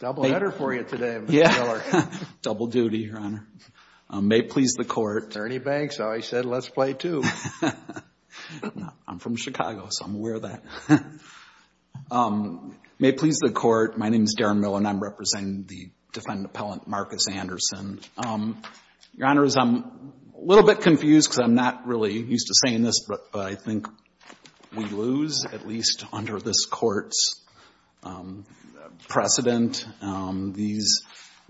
Your Honor, I'm a little bit confused because I'm not really used to saying this, but I think we lose, at least under this Court's precedent. These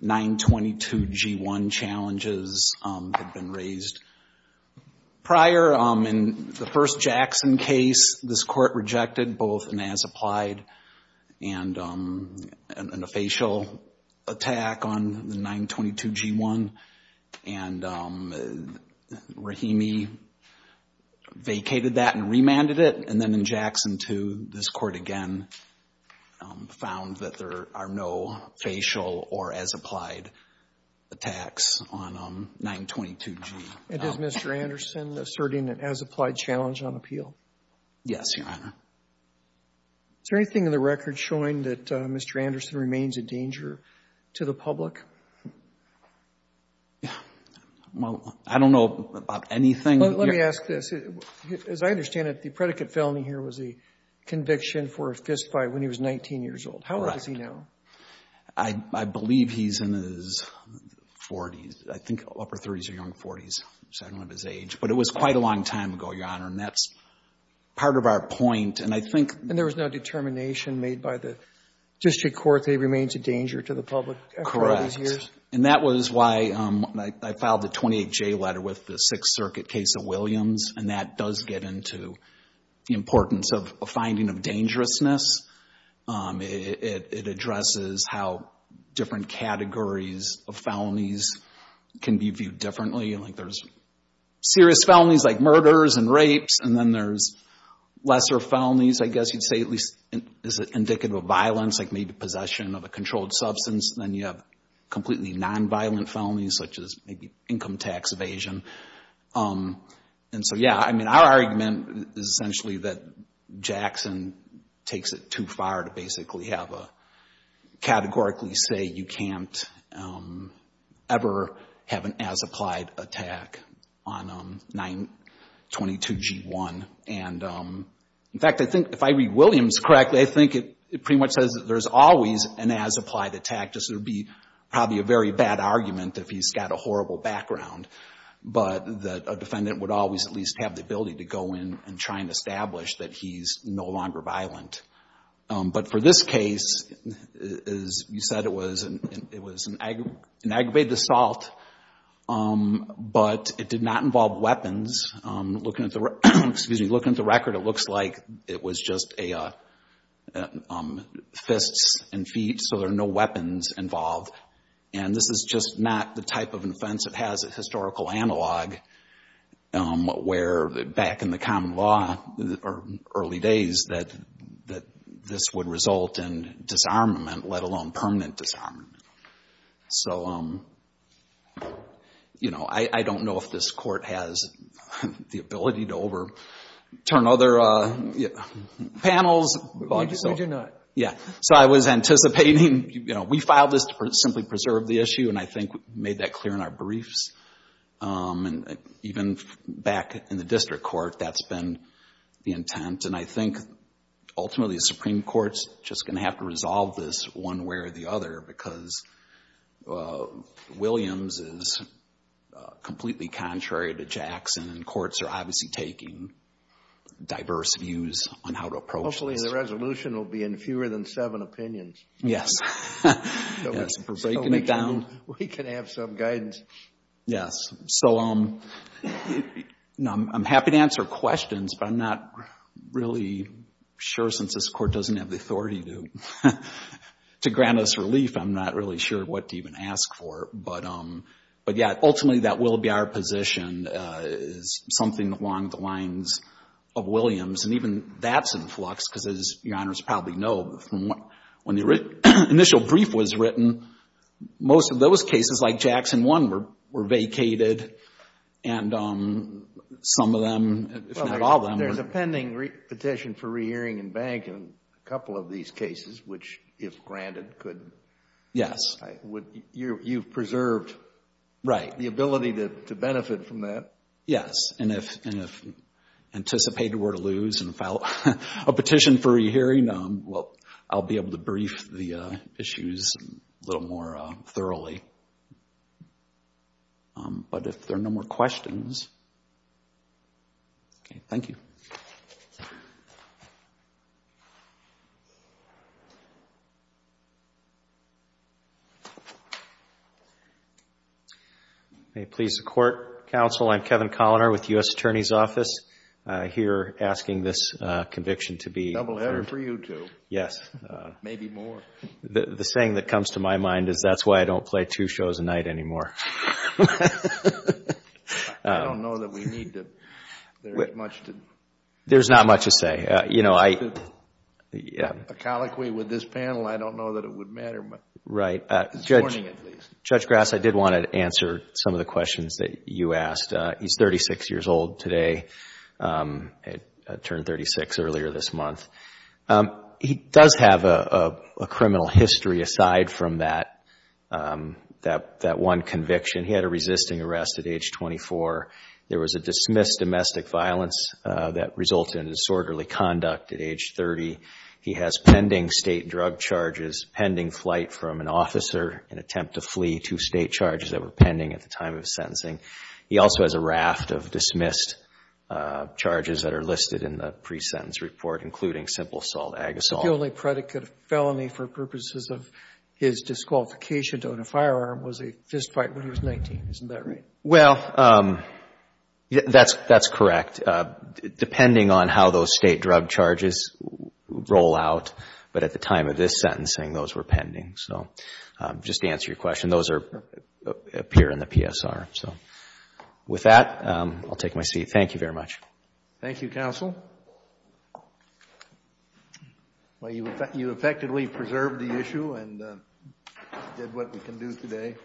922G1 challenges have been raised prior. In the first Jackson case, this Court rejected both an as-applied and a facial attack on the 922G1. And Rahimi vacated that and remanded it. And then in Jackson 2, this Court again found that there are no facial or as-applied attacks on 922G. And is Mr. Anderson asserting an as-applied challenge on appeal? Yes, Your Honor. Is there anything in the record showing that Mr. Anderson remains a danger to the public? Well, I don't know about anything. Well, let me ask this. As I understand it, the predicate felony here was a conviction for a fist fight when he was 19 years old. How old is he now? I believe he's in his 40s. I think upper 30s or young 40s. So I don't know his age. But it was quite a long time ago, Your Honor. And that's part of our point. And I think And there was no determination made by the district court that he remains a danger to the public for all these years? Correct. And that was why I filed the 28J letter with the Sixth Circuit case of Williams. And that does get into the importance of finding of dangerousness. It addresses how different categories of felonies can be viewed differently. Like there's serious felonies like murders and rapes. And then there's lesser felonies, I guess you'd say, at least is indicative of violence, like maybe possession of a controlled substance. Then you have completely nonviolent felonies such as maybe income tax evasion. And so, yeah, I mean, our argument is essentially that Jackson takes it too far to basically have a categorically say you can't ever have an as-applied attack on 922G1. And, in fact, I think if I read Williams correctly, I think it pretty much says that there's always an as-applied attack. Just there would be probably a very bad argument if he's got a horrible background, but that a defendant would always at least have the ability to go in and try and establish that he's no longer violent. But for this case, as you said, it was an aggravated assault, but it did not involve weapons. Looking at the record, it looks like it was just fists and feet, so there are no and this is just not the type of offense that has a historical analog where back in the common law or early days that this would result in disarmament, let alone permanent disarmament. So I don't know if this court has the ability to overturn other panels. We do not. So I was anticipating we filed this to simply preserve the issue, and I think we made that clear in our briefs. Even back in the district court, that's been the intent. And I think ultimately the Supreme Court's just going to have to resolve this one way or the other because Williams is completely contrary to Jackson, and courts are obviously taking diverse views on how to approach this. The resolution will be in fewer than seven opinions. Yes. We're breaking it down. We can have some guidance. Yes. So I'm happy to answer questions, but I'm not really sure since this court doesn't have the authority to grant us relief. I'm not really sure what to even ask for. But yeah, ultimately that will be our position, is something along the lines of Williams. And even that's in flux, because as Your Honors probably know, from when the initial brief was written, most of those cases like Jackson 1 were vacated, and some of them, if not all of them were. Well, there's a pending petition for re-hearing in Bank in a couple of these cases, which, if granted, could be. Yes. You've preserved the ability to benefit from that. Yes. And if anticipated we're to lose and file a petition for re-hearing, well, I'll be able to brief the issues a little more thoroughly. But if there are no more questions, okay. Thank you. May it please the Court, Counsel, I'm Kevin Colliner with the U.S. Attorney's Office, here asking this conviction to be affirmed. Double-header for you two. Yes. Maybe more. The saying that comes to my mind is, that's why I don't play two shows a night anymore. I don't know that we need to... there's not much to... There's not much to say. A colloquy with this panel, I don't know that it would matter much. Right. This morning, at least. Judge Grass, I did want to answer some of the questions that you asked. He's 36 years old today, turned 36 earlier this month. He does have a criminal history aside from that one conviction. He had a resisting arrest at age 24. There was a dismissed domestic violence that resulted in disorderly conduct at age 30. He has pending state drug charges, pending flight from an officer, an attempt to flee, two state charges that were pending at the time of sentencing. He also has a raft of dismissed charges that are listed in the pre-sentence report, including simple assault, ag assault. The only predicate of felony for purposes of his disqualification to own a firearm was a fist fight when he was 19. Isn't that right? Well, that's correct. Depending on how those state drug charges roll out, but at the time of this sentencing, those were pending. So, just to answer your question, those appear in the PSR. So, with that, I'll take my seat. Thank you very much. Thank you, counsel. Well, you effectively preserved the issue and did what we can do today.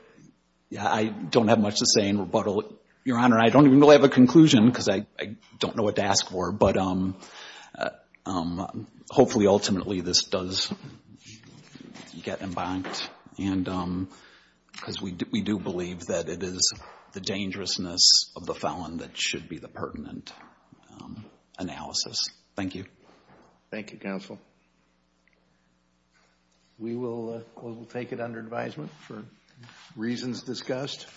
Yeah, I don't have much to say in rebuttal, Your Honor. I don't even really have a conclusion because I don't know what to ask for. But hopefully, ultimately, this does get embarked, because we do believe that it is the dangerousness of the felon that should be the pertinent analysis. Thank you. Thank you, counsel. We will take it under advisement for reasons discussed.